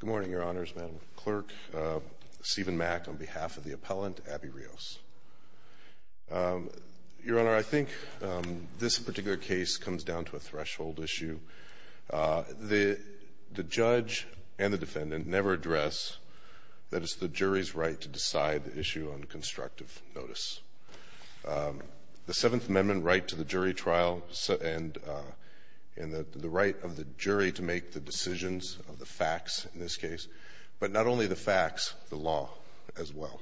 Good morning, Your Honors, Madam Clerk, Stephen Mack on behalf of the appellant, Abby Rios. Your Honor, I think this particular case comes down to a threshold issue. The judge and the defendant never address that it's the jury's right to decide the issue on constructive notice. The Seventh Amendment right to the jury trial and the right of the jury to make the decisions of the facts in this case, but not only the facts, the law as well.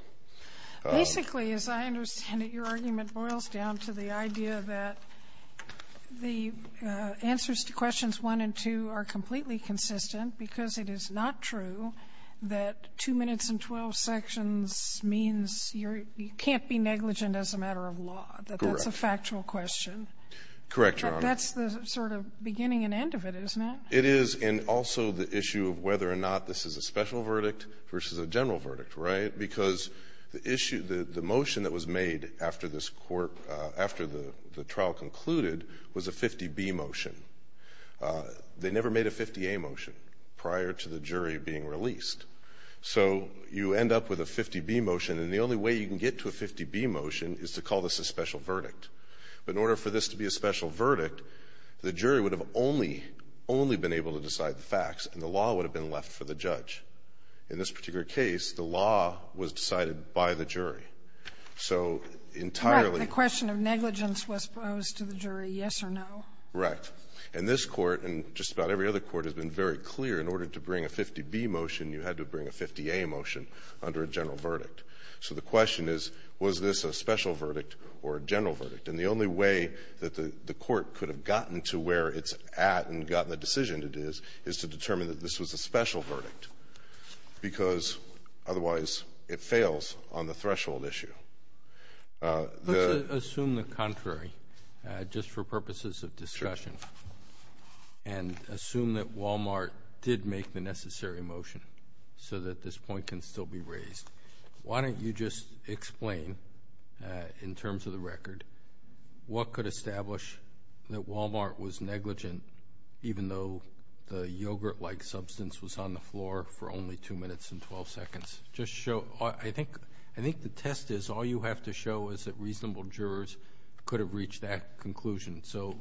Basically, as I understand it, your argument boils down to the idea that the answers to questions 1 and 2 are completely consistent because it is not true that 2 minutes and 12 sections means you're you can't be negligent as a matter of law. Correct. That's a factual question. Correct, Your Honor. That's the sort of beginning and end of it, isn't it? It is. And also the issue of whether or not this is a special verdict versus a general verdict, right, because the issue, the motion that was made after this Court, after the trial concluded, was a 50B motion. They never made a 50A motion prior to the jury being released. So you end up with a 50B motion, and the only way you can get to a 50B motion is to call this a special verdict. But in order for this to be a special verdict, the jury would have only, only been able to decide the facts, and the law would have been left for the judge. In this particular case, the law was decided by the jury. So entirely the question of negligence was posed to the jury, yes or no. Right. And this Court, and just about every other court, has been very clear in order to bring a 50B motion, you had to bring a 50A motion under a general verdict. So the question is, was this a special verdict or a general verdict? And the only way that the Court could have gotten to where it's at and gotten the decision it is, is to determine that this was a special verdict, because otherwise it fails on the threshold issue. Let's assume the contrary, just for purposes of discussion. Sure. And assume that Wal-Mart did make the necessary motion, so that this point can still be raised. Why don't you just explain, in terms of the record, what could establish that Wal-Mart was negligent, even though the yogurt-like substance was on the floor for only 2 minutes and 12 seconds. Just show... I think the test is, all you have to show is that reasonable jurors could have reached that conclusion. So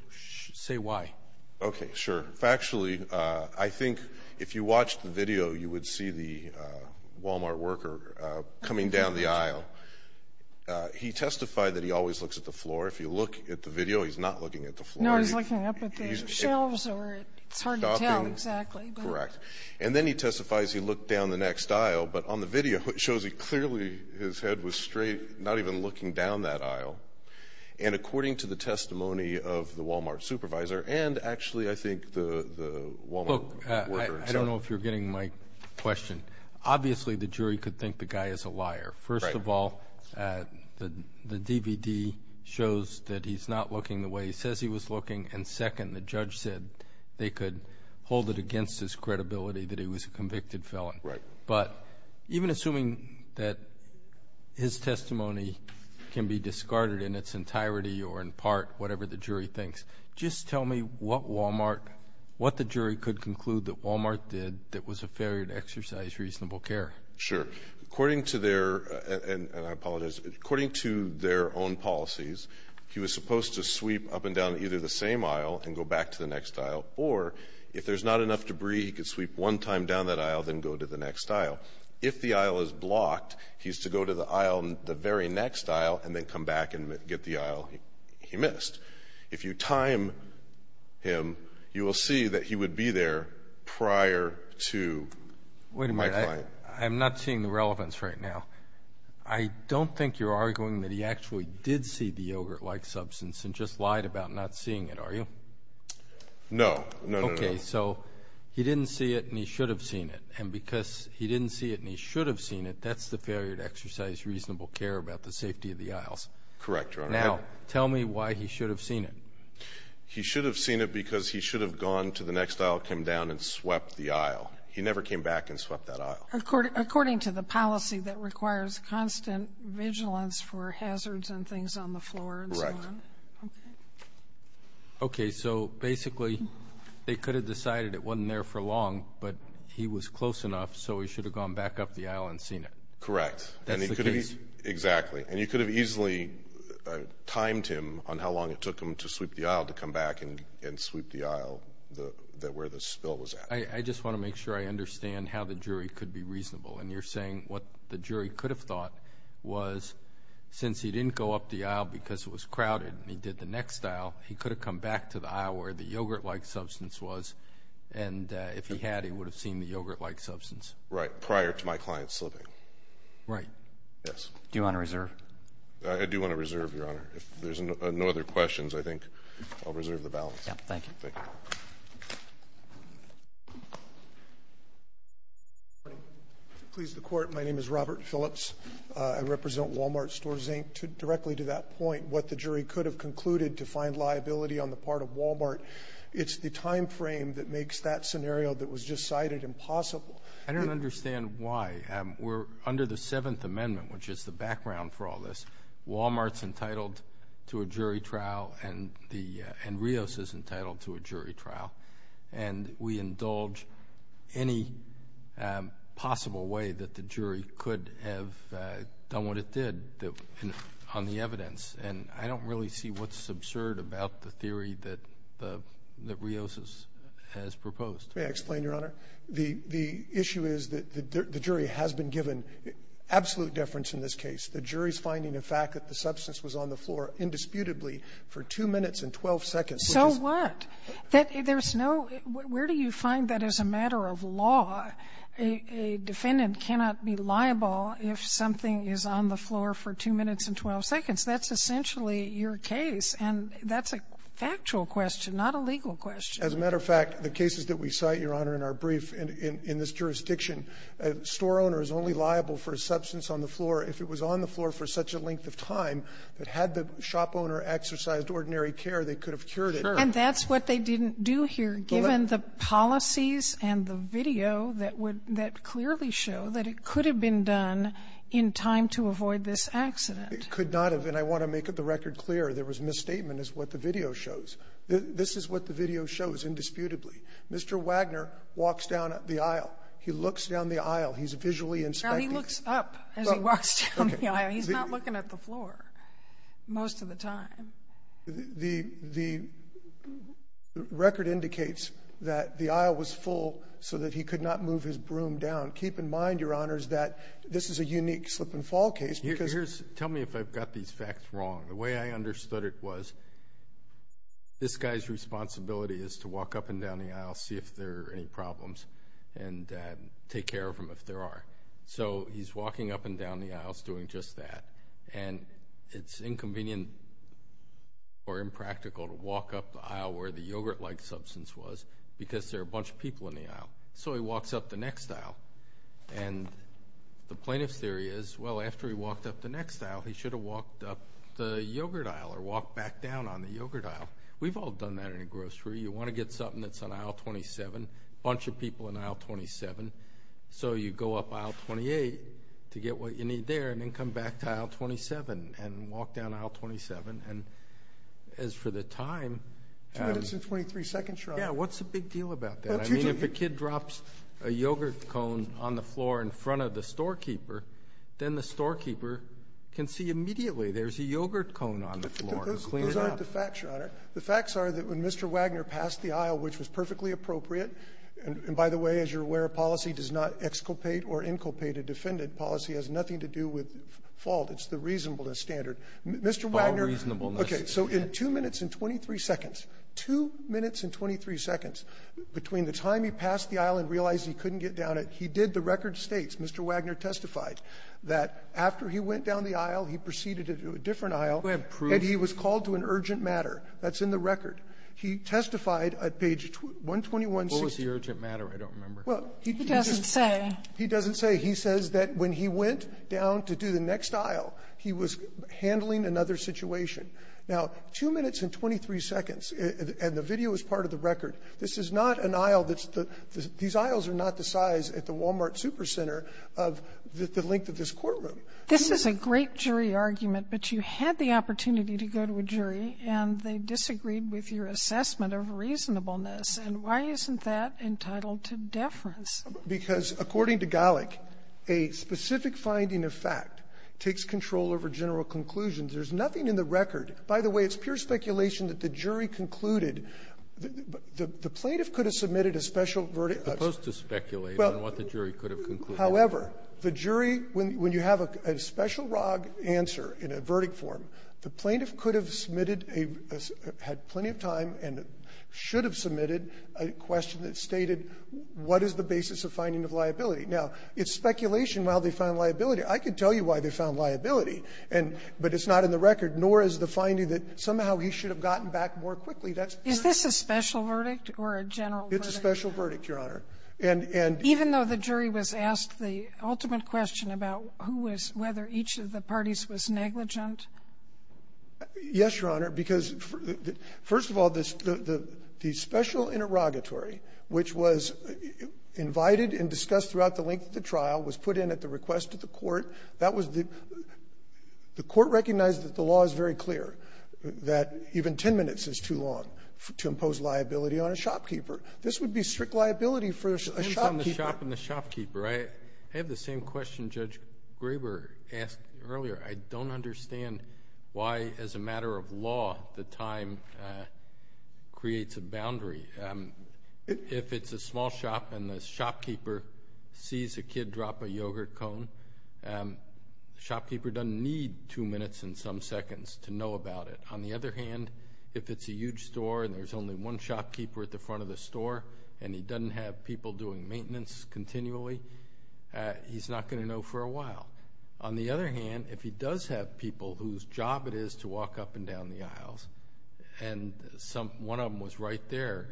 say why. Okay. Sure. Factually, I think if you watched the video, you would see the Wal-Mart worker coming down the aisle. He testified that he always looks at the floor. If you look at the video, he's not looking at the floor. No, he's looking up at the shelves or it's hard to tell exactly. Correct. And then he testifies he looked down the next aisle. down that aisle. And according to the testimony of the Wal-Mart supervisor and actually, I think, the Wal-Mart worker himself... Look, I don't know if you're getting my question. Obviously, the jury could think the guy is a liar. First of all, the DVD shows that he's not looking the way he says he was looking. And second, the judge said they could hold it against his credibility that he was a convicted felon. Right. But even assuming that his testimony can be discarded in its entirety or in part, whatever the jury thinks, just tell me what Wal-Mart... what the jury could conclude that Wal-Mart did that was a failure to exercise reasonable care. Sure. According to their... and I apologize. According to their own policies, he was supposed to sweep up and down either the same aisle and go back to the next aisle. Or if there's not enough debris, he could sweep one time down that aisle, then go to the next aisle. If the aisle is blocked, he's to go to the aisle in the very next aisle and then come back and get the aisle he missed. If you time him, you will see that he would be there prior to... Wait a minute. I'm not seeing the relevance right now. I don't think you're arguing that he actually did see the yogurt-like substance and just lied about not seeing it, are you? No. No, no, no. Okay. So he didn't see it and he should have seen it. And because he didn't see it and he should have seen it, that's the failure to exercise reasonable care about the safety of the aisles. Correct, Your Honor. Now, tell me why he should have seen it. He should have seen it because he should have gone to the next aisle, come down and swept the aisle. He never came back and swept that aisle. According to the policy that requires constant vigilance for hazards and things on the floor and so on. Correct. Okay. Okay. So basically they could have decided it wasn't there for long, but he was close enough so he should have gone back up the aisle and seen it. Correct. That's the case. Exactly. And you could have easily timed him on how long it took him to sweep the aisle to come back and sweep the aisle where the spill was at. I just want to make sure I understand how the jury could be reasonable. And you're saying what the jury could have thought was since he didn't go up the aisle because it was crowded and he did the next aisle, he could have come back to the aisle where the yogurt-like substance was. And if he had, he would have seen the yogurt-like substance. Right. Prior to my client slipping. Right. Yes. Do you want to reserve? I do want to reserve, Your Honor. If there's no other questions, I think I'll reserve the balance. Yeah. Thank you. Thank you. Please, the Court. My name is Robert Phillips. I represent Walmart Stores, Inc. Directly to that point, what the jury could have concluded to find liability on the part of Walmart. It's the time frame that makes that scenario that was just cited impossible. I don't understand why. We're under the Seventh Amendment, which is the background for all this. Walmart's entitled to a jury trial and Rios is entitled to a jury trial. And we indulge any possible way that the jury could have done what it did on the evidence. And I don't really see what's absurd about the theory that Rios has proposed. May I explain, Your Honor? The issue is that the jury has been given absolute deference in this case. The jury's finding the fact that the substance was on the floor indisputably for 2 minutes and 12 seconds. So what? There's no — where do you find that as a matter of law, a defendant cannot be liable if something is on the floor for 2 minutes and 12 seconds? That's essentially your case, and that's a factual question, not a legal question. As a matter of fact, the cases that we cite, Your Honor, in our brief in this jurisdiction, a store owner is only liable for a substance on the floor if it was on the floor for such a length of time that had the shop owner exercised ordinary care, they could have cured it. Sure. And that's what they didn't do here, given the policies and the video that would — that clearly show that it could have been done in time to avoid this accident. It could not have. And I want to make the record clear, there was misstatement is what the video shows. This is what the video shows, indisputably. Mr. Wagner walks down the aisle. He looks down the aisle. He's visually inspecting. He looks up as he walks down the aisle. He's not looking at the floor most of the time. The record indicates that the aisle was full so that he could not move his broom down. Keep in mind, Your Honors, that this is a unique slip-and-fall case because — Here's — tell me if I've got these facts wrong. The way I understood it was this guy's responsibility is to walk up and down the aisle, see if there are any problems, and take care of him if there are. So he's walking up and down the aisles doing just that. And it's inconvenient or impractical to walk up the aisle where the yogurt-like substance was because there are a bunch of people in the aisle. So he walks up the next aisle. And the plaintiff's theory is, well, after he walked up the next aisle, he should have walked up the yogurt aisle or walked back down on the yogurt aisle. We've all done that in a grocery. You want to get something that's on aisle 27, a bunch of people on aisle 27. So you go up aisle 28 to get what you need there and then come back to aisle 27 and walk down aisle 27. And as for the time — Two minutes and 23 seconds, Your Honor. Yeah. What's the big deal about that? I mean, if a kid drops a yogurt cone on the floor in front of the storekeeper, then the storekeeper can see immediately there's a yogurt cone on the floor and clean it up. Those aren't the facts, Your Honor. The facts are that when Mr. Wagner passed the aisle, which was perfectly appropriate — and by the way, as you're aware, policy does not exculpate or inculpate a defendant. Policy has nothing to do with fault. It's the reasonableness standard. Mr. Wagner — Fault reasonableness. Okay. So in two minutes and 23 seconds, two minutes and 23 seconds, between the time he passed the aisle and realized he couldn't get down it, he did the record states. Mr. Wagner testified that after he went down the aisle, he proceeded to a different aisle. Go ahead. Proof. And he was called to an urgent matter. That's in the record. He testified at page 121. What was the urgent matter? I don't remember. Well, he just — He doesn't say. He doesn't say. He says that when he went down to do the next aisle, he was handling another situation. Now, two minutes and 23 seconds, and the video is part of the record, this is not an aisle that's the — these aisles are not the size at the Walmart Supercenter of the length of this courtroom. This is a great jury argument, but you had the opportunity to go to a jury, and they disagreed with your assessment of reasonableness. And why isn't that entitled to deference? Because, according to Gallick, a specific finding of fact takes control over general conclusions. There's nothing in the record. By the way, it's pure speculation that the jury concluded the plaintiff could have submitted a special verdict of — Supposed to speculate on what the jury could have concluded. However, the jury, when you have a special wrong answer in a verdict form, the plaintiff could have submitted a — had plenty of time and should have submitted a question that stated what is the basis of finding of liability. Now, it's speculation while they found liability. I can tell you why they found liability, and — but it's not in the record, nor is the finding that somehow he should have gotten back more quickly. That's pure — Is this a special verdict or a general verdict? It's a special verdict, Your Honor. And — and — Even though the jury was asked the ultimate question about who was — whether each of the parties was negligent? Yes, Your Honor, because, first of all, this — the special interrogatory, which was invited and discussed throughout the length of the trial, was put in at the request of the Court. That was the — the Court recognized that the law is very clear, that even 10 minutes is too long to impose liability on a shopkeeper. This would be strict liability for a shopkeeper. On the shop and the shopkeeper, I have the same question Judge Graber asked earlier. I don't understand why, as a matter of law, the time creates a boundary. If it's a small shop and the shopkeeper sees a kid drop a yogurt cone, the shopkeeper doesn't need two minutes and some seconds to know about it. On the other hand, if it's a huge store and there's only one shopkeeper at the front of the store and he doesn't have people doing maintenance continually, he's not going to know for a while. On the other hand, if he does have people whose job it is to walk up and down the aisles and some — one of them was right there,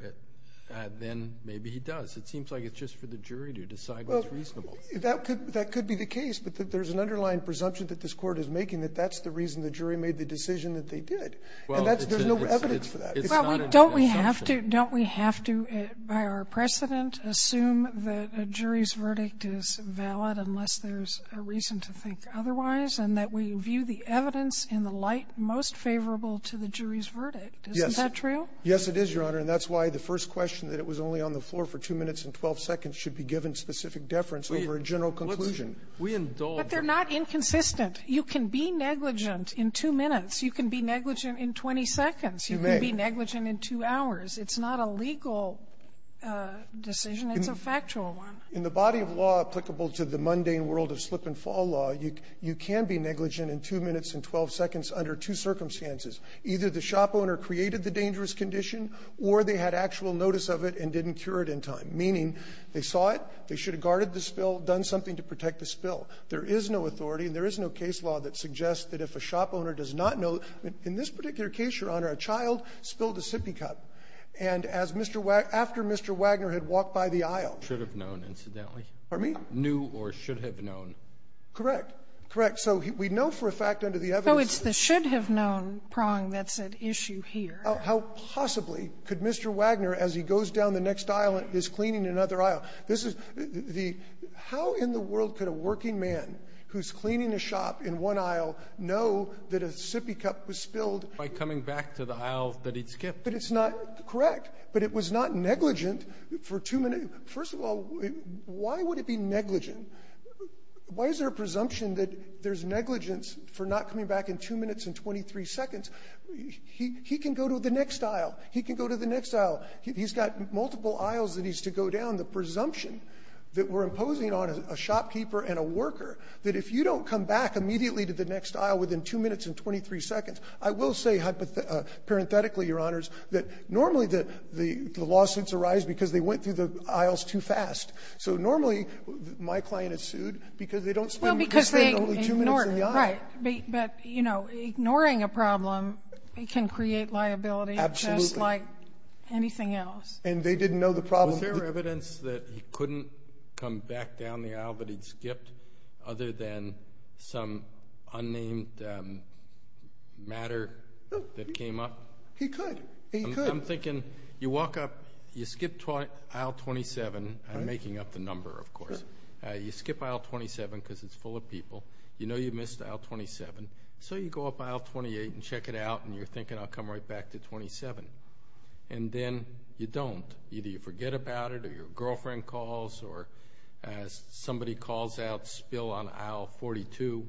then maybe he does. It seems like it's just for the jury to decide what's reasonable. That could be the case, but there's an underlying presumption that this Court is making that that's the reason the jury made the decision that they did, and that's — there's no evidence for that. It's not an assumption. Sotomayor, don't we have to, by our precedent, assume that a jury's verdict is valid unless there's a reason to think otherwise, and that we view the evidence in the light most favorable to the jury's verdict? Isn't that true? Yes, it is, Your Honor. And that's why the first question, that it was only on the floor for two minutes and 12 seconds, should be given specific deference over a general conclusion. But they're not inconsistent. You can be negligent in two minutes. You can be negligent in 20 seconds. You can be negligent in two hours. It's not a legal decision. It's a factual one. In the body of law applicable to the mundane world of slip-and-fall law, you can be negligent in two minutes and 12 seconds under two circumstances. Either the shop owner created the dangerous condition, or they had actual notice of it and didn't cure it in time, meaning they saw it, they should have guarded the spill, done something to protect the spill. There is no authority, and there is no case law that suggests that if a shop owner does not know — in this particular case, Your Honor, a child spilled a sippy cup, and as Mr. Wagner — after Mr. Wagner had walked by the aisle. Roberts, I should have known, incidentally. Pardon me? Knew or should have known. Correct. Correct. So we know for a fact under the evidence that — Oh, it's the should-have-known prong that's at issue here. How possibly could Mr. Wagner, as he goes down the next aisle and is cleaning another aisle, this is the — how in the world could a working man who's cleaning a shop in one aisle know that a sippy cup was spilled — By coming back to the aisle that he'd skipped. But it's not — correct. But it was not negligent for two — first of all, why would it be negligent? Why is there a presumption that there's negligence for not coming back in two minutes and 23 seconds? He can go to the next aisle. He can go to the next aisle. He's got multiple aisles that he's to go down. The presumption that we're imposing on a shopkeeper and a worker, that if you don't come back immediately to the next aisle within two minutes and 23 seconds, I will say hypothetically, Your Honors, that normally the lawsuits arise because they went through the aisles too fast. So normally, my client is sued because they don't spend only two minutes in the aisle. Well, because they ignore — right. But, you know, ignoring a problem can create liability just like anything else. Absolutely. And they didn't know the problem. Was there evidence that he couldn't come back down the aisle, but he'd skipped other than some unnamed matter that came up? No. He could. He could. I'm thinking you walk up, you skip aisle 27 — I'm making up the number, of course. Sure. You skip aisle 27 because it's full of people. You know you missed aisle 27. So you go up aisle 28 and check it out, and you're thinking, I'll come right back to 27. And then you don't. Either you forget about it, or your girlfriend calls, or somebody calls out, spill on aisle 42,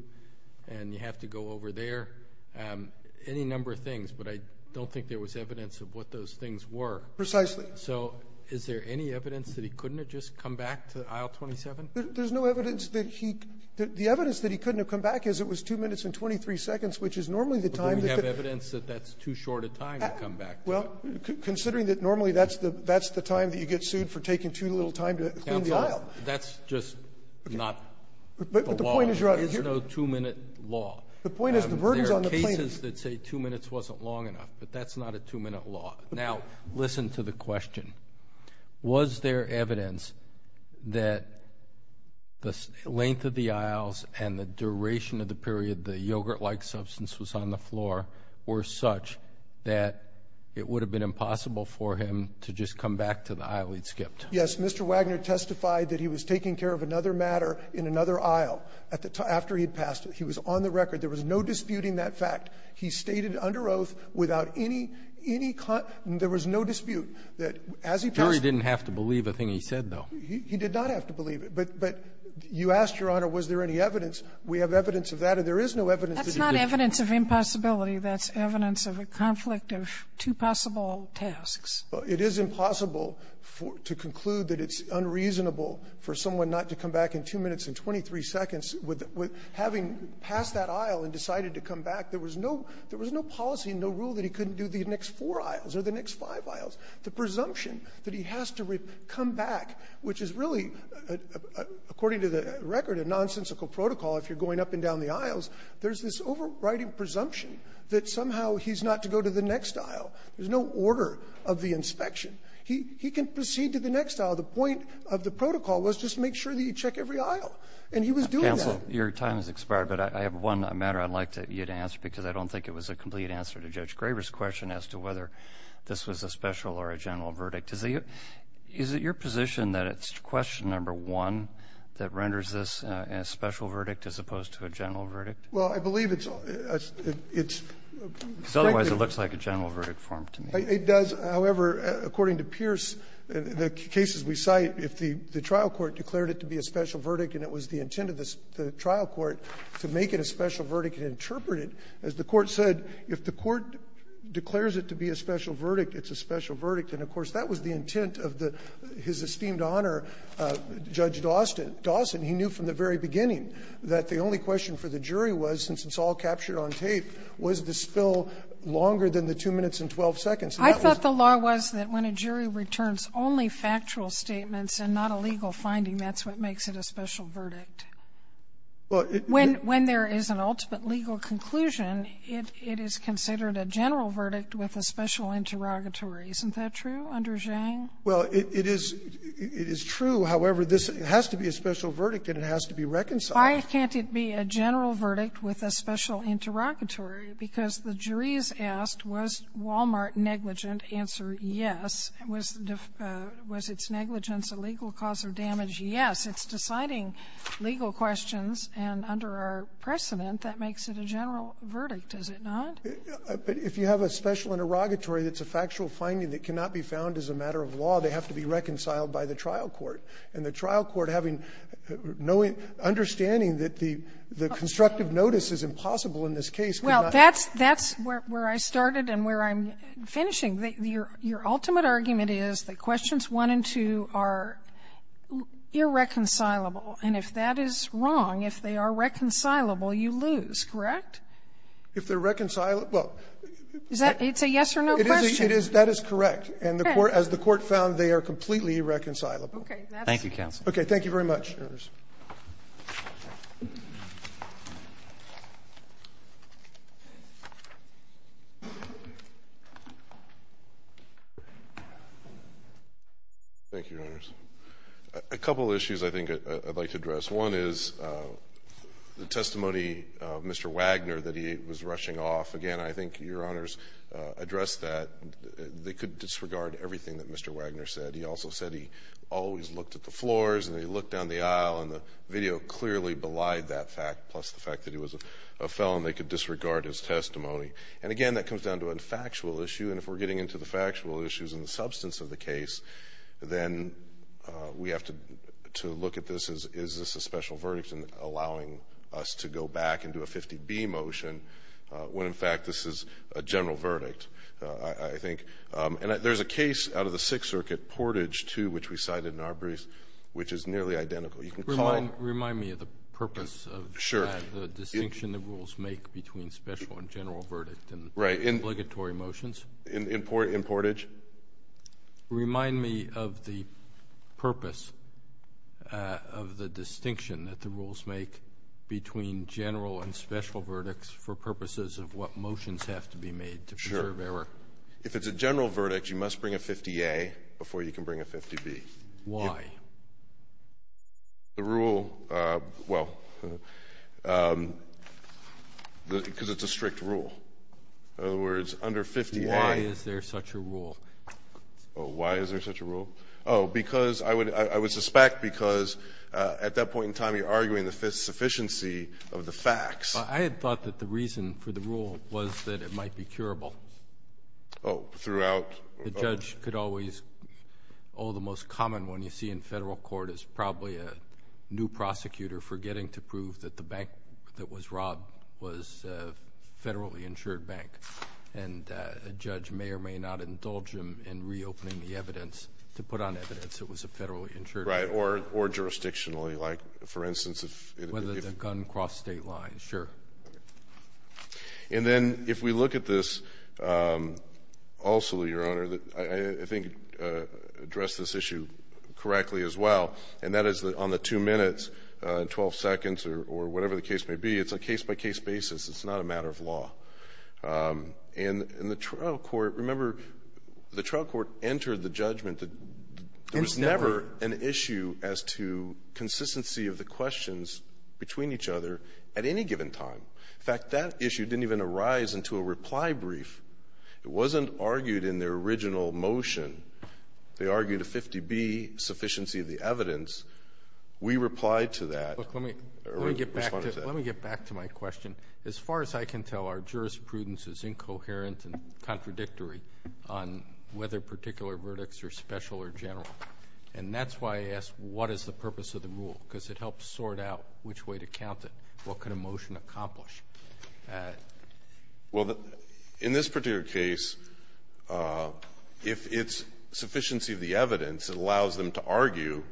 and you have to go over there. Any number of things. But I don't think there was evidence of what those things were. Precisely. So is there any evidence that he couldn't have just come back to aisle 27? There's no evidence that he — the evidence that he couldn't have come back is it was two minutes and 23 seconds, which is normally the time — But we have evidence that that's too short a time to come back to. Considering that normally that's the time that you get sued for taking too little time to clean the aisle. That's just not the law. But the point is, Your Honor — There's no two-minute law. The point is, the burden is on the plaintiff. There are cases that say two minutes wasn't long enough, but that's not a two-minute law. Now, listen to the question. Was there evidence that the length of the aisles and the duration of the period the yogurt-like substance was on the floor were such that it would have been impossible for him to just come back to the aisle he'd skipped? Yes. Mr. Wagner testified that he was taking care of another matter in another aisle at the time — after he'd passed it. He was on the record. There was no disputing that fact. He stated under oath without any — any — there was no dispute that as he passed it — Jury didn't have to believe a thing he said, though. He did not have to believe it. But — but you asked, Your Honor, was there any evidence. We have evidence of that. And there is no evidence that he could — That's not evidence of impossibility. That's evidence of a conflict of two possible tasks. Well, it is impossible to conclude that it's unreasonable for someone not to come back in two minutes and 23 seconds with — with having passed that aisle and decided to come back. There was no — there was no policy, no rule that he couldn't do the next four aisles or the next five aisles. The presumption that he has to come back, which is really, according to the record, a nonsensical protocol if you're going up and down the aisles, there's this overriding presumption that somehow he's not to go to the next aisle. There's no order of the inspection. He — he can proceed to the next aisle. The point of the protocol was just make sure that you check every aisle. And he was doing that. Counsel, your time has expired, but I have one matter I'd like to — you to answer because I don't think it was a complete answer to Judge Graber's question as to whether this was a special or a general verdict. Is it your — is it your position that it's question number one that renders this a special verdict as opposed to a general verdict? Well, I believe it's — it's — Because otherwise, it looks like a general verdict form to me. It does. However, according to Pierce, the cases we cite, if the — the trial court declared it to be a special verdict and it was the intent of the trial court to make it a special verdict and interpret it, as the Court said, if the court declares it to be a special verdict, and, of course, that was the intent of the — his esteemed honor, Judge Dawson, he knew from the very beginning that the only question for the jury was, since it's all captured on tape, was the spill longer than the 2 minutes and 12 seconds. I thought the law was that when a jury returns only factual statements and not a legal finding, that's what makes it a special verdict. Well, it — When — when there is an ultimate legal conclusion, it — it is considered a general verdict with a special interrogatory. Isn't that true under Zhang? Well, it — it is — it is true. However, this has to be a special verdict, and it has to be reconciled. Why can't it be a general verdict with a special interrogatory? Because the jury is asked, was Wal-Mart negligent? Answer, yes. Was — was its negligence a legal cause of damage? Yes. It's deciding legal questions, and under our precedent, that makes it a general verdict, does it not? But if you have a special interrogatory that's a factual finding that cannot be found as a matter of law, they have to be reconciled by the trial court. And the trial court having no understanding that the — the constructive notice is impossible in this case cannot — Well, that's — that's where I started and where I'm finishing. Your — your ultimate argument is the questions 1 and 2 are irreconcilable. And if that is wrong, if they are reconcilable, you lose, correct? If they're reconcilable — Is that — it's a yes or no question. It is. That is correct. And the court — as the court found, they are completely irreconcilable. Okay. Thank you, counsel. Okay. Thank you very much, jurors. Thank you, Your Honors. A couple issues I think I'd like to address. One is the testimony of Mr. Wagner that he was rushing off. Again, I think Your Honors addressed that. They could disregard everything that Mr. Wagner said. He also said he always looked at the floors and he looked down the aisle and the video clearly belied that fact, plus the fact that he was a felon. They could disregard his testimony. And again, that comes down to a factual issue. And if we're getting into the factual issues and the substance of the case, then we have to look at this as, is this a special verdict in allowing us to go back and do a 50-B motion when, in fact, this is a general verdict, I think. And there's a case out of the Sixth Circuit, Portage 2, which we cited in our briefs, which is nearly identical. You can call it — Remind me of the purpose of that — Sure. — the distinction the rules make between special and general verdict in obligatory motions. Right. In Portage? Remind me of the purpose of the distinction that the rules make between general and special verdicts for purposes of what motions have to be made to preserve error. Sure. If it's a general verdict, you must bring a 50-A before you can bring a 50-B. Why? The rule — well, because it's a strict rule. In other words, under 50-A — Oh, why is there such a rule? Oh, because — I would suspect because at that point in time, you're arguing the sufficiency of the facts. I had thought that the reason for the rule was that it might be curable. Oh, throughout — The judge could always — oh, the most common one you see in federal court is probably a new prosecutor forgetting to prove that the bank that was robbed was a federally insured bank. And a judge may or may not indulge him in reopening the evidence to put on evidence it was a federally insured bank. Right. Or jurisdictionally, like, for instance, if — Whether the gun crossed state lines. Sure. And then if we look at this also, Your Honor, I think address this issue correctly as well, and that is on the two minutes and 12 seconds or whatever the case may be. It's a case-by-case basis. It's not a matter of law. And the trial court — remember, the trial court entered the judgment that there was never an issue as to consistency of the questions between each other at any given time. In fact, that issue didn't even arise into a reply brief. It wasn't argued in their original motion. They argued a 50B, sufficiency of the evidence. We replied to that. Look, let me — Or responded to that. Let me get back to my question. As far as I can tell, our jurisprudence is incoherent and contradictory on whether particular verdicts are special or general. And that's why I asked, what is the purpose of the rule? Because it helps sort out which way to count it. What could a motion accomplish? Well, in this particular case, if it's sufficiency of the evidence, it allows them to argue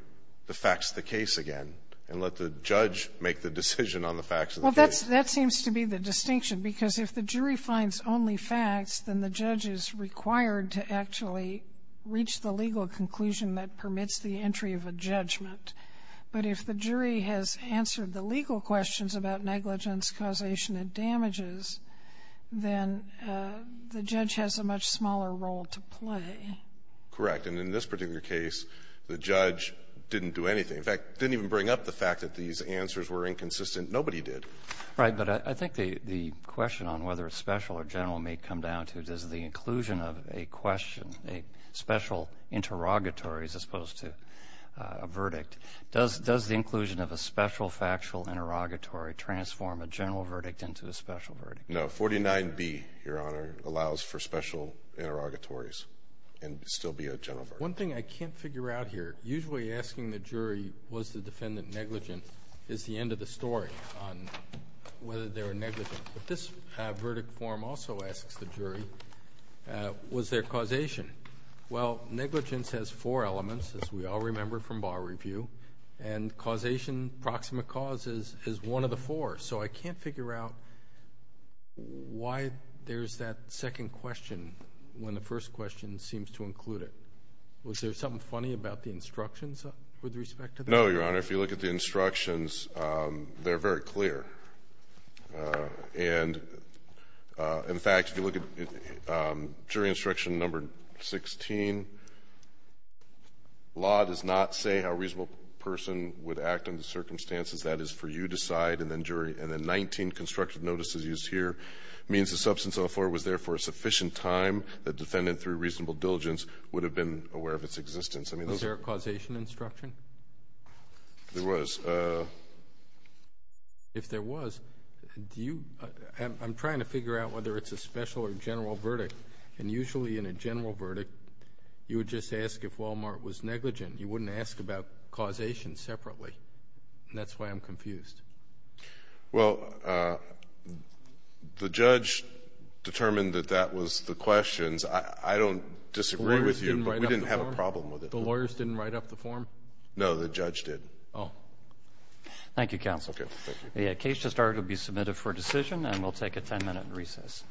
the facts of the case again and let the judge make the decision on the facts of the case. Well, that seems to be the distinction. Because if the jury finds only facts, then the judge is required to actually reach the legal conclusion that permits the entry of a judgment. But if the jury has answered the legal questions about negligence, causation, and damages, then the judge has a much smaller role to play. Correct. And in this particular case, the judge didn't do anything. In fact, didn't even bring up the fact that these answers were inconsistent. Nobody did. Right. But I think the question on whether it's special or general may come down to, does the inclusion of a question, a special interrogatory as opposed to a verdict, does the inclusion of a special factual interrogatory transform a general verdict into a special verdict? No. 49B, Your Honor, allows for special interrogatories and still be a general verdict. One thing I can't figure out here, usually asking the jury, was the defendant negligent, is the end of the story on whether they were negligent. But this verdict form also asks the jury, was there causation? Well, negligence has four elements, as we all remember from bar review. And causation, proximate cause, is one of the four. So I can't figure out why there's that second question when the first question seems to include it. Was there something funny about the instructions with respect to that? No, Your Honor. If you look at the instructions, they're very clear. And in fact, if you look at jury instruction number 16, law does not say how a reasonable person would act under the circumstances. That is for you to decide, and then jury. And then 19, constructive notice is used here. Means the substance of the affordment was there for a sufficient time that the defendant, through reasonable diligence, would have been aware of its existence. Was there a causation instruction? There was. If there was, do you, I'm trying to figure out whether it's a special or general verdict. And usually in a general verdict, you would just ask if Walmart was negligent. You wouldn't ask about causation separately. That's why I'm confused. Well, the judge determined that that was the questions. I don't disagree with you, but we didn't have a problem with it. The lawyers didn't write up the form? No, the judge did. Oh. Thank you, counsel. The case to start will be submitted for decision, and we'll take a 10 minute recess.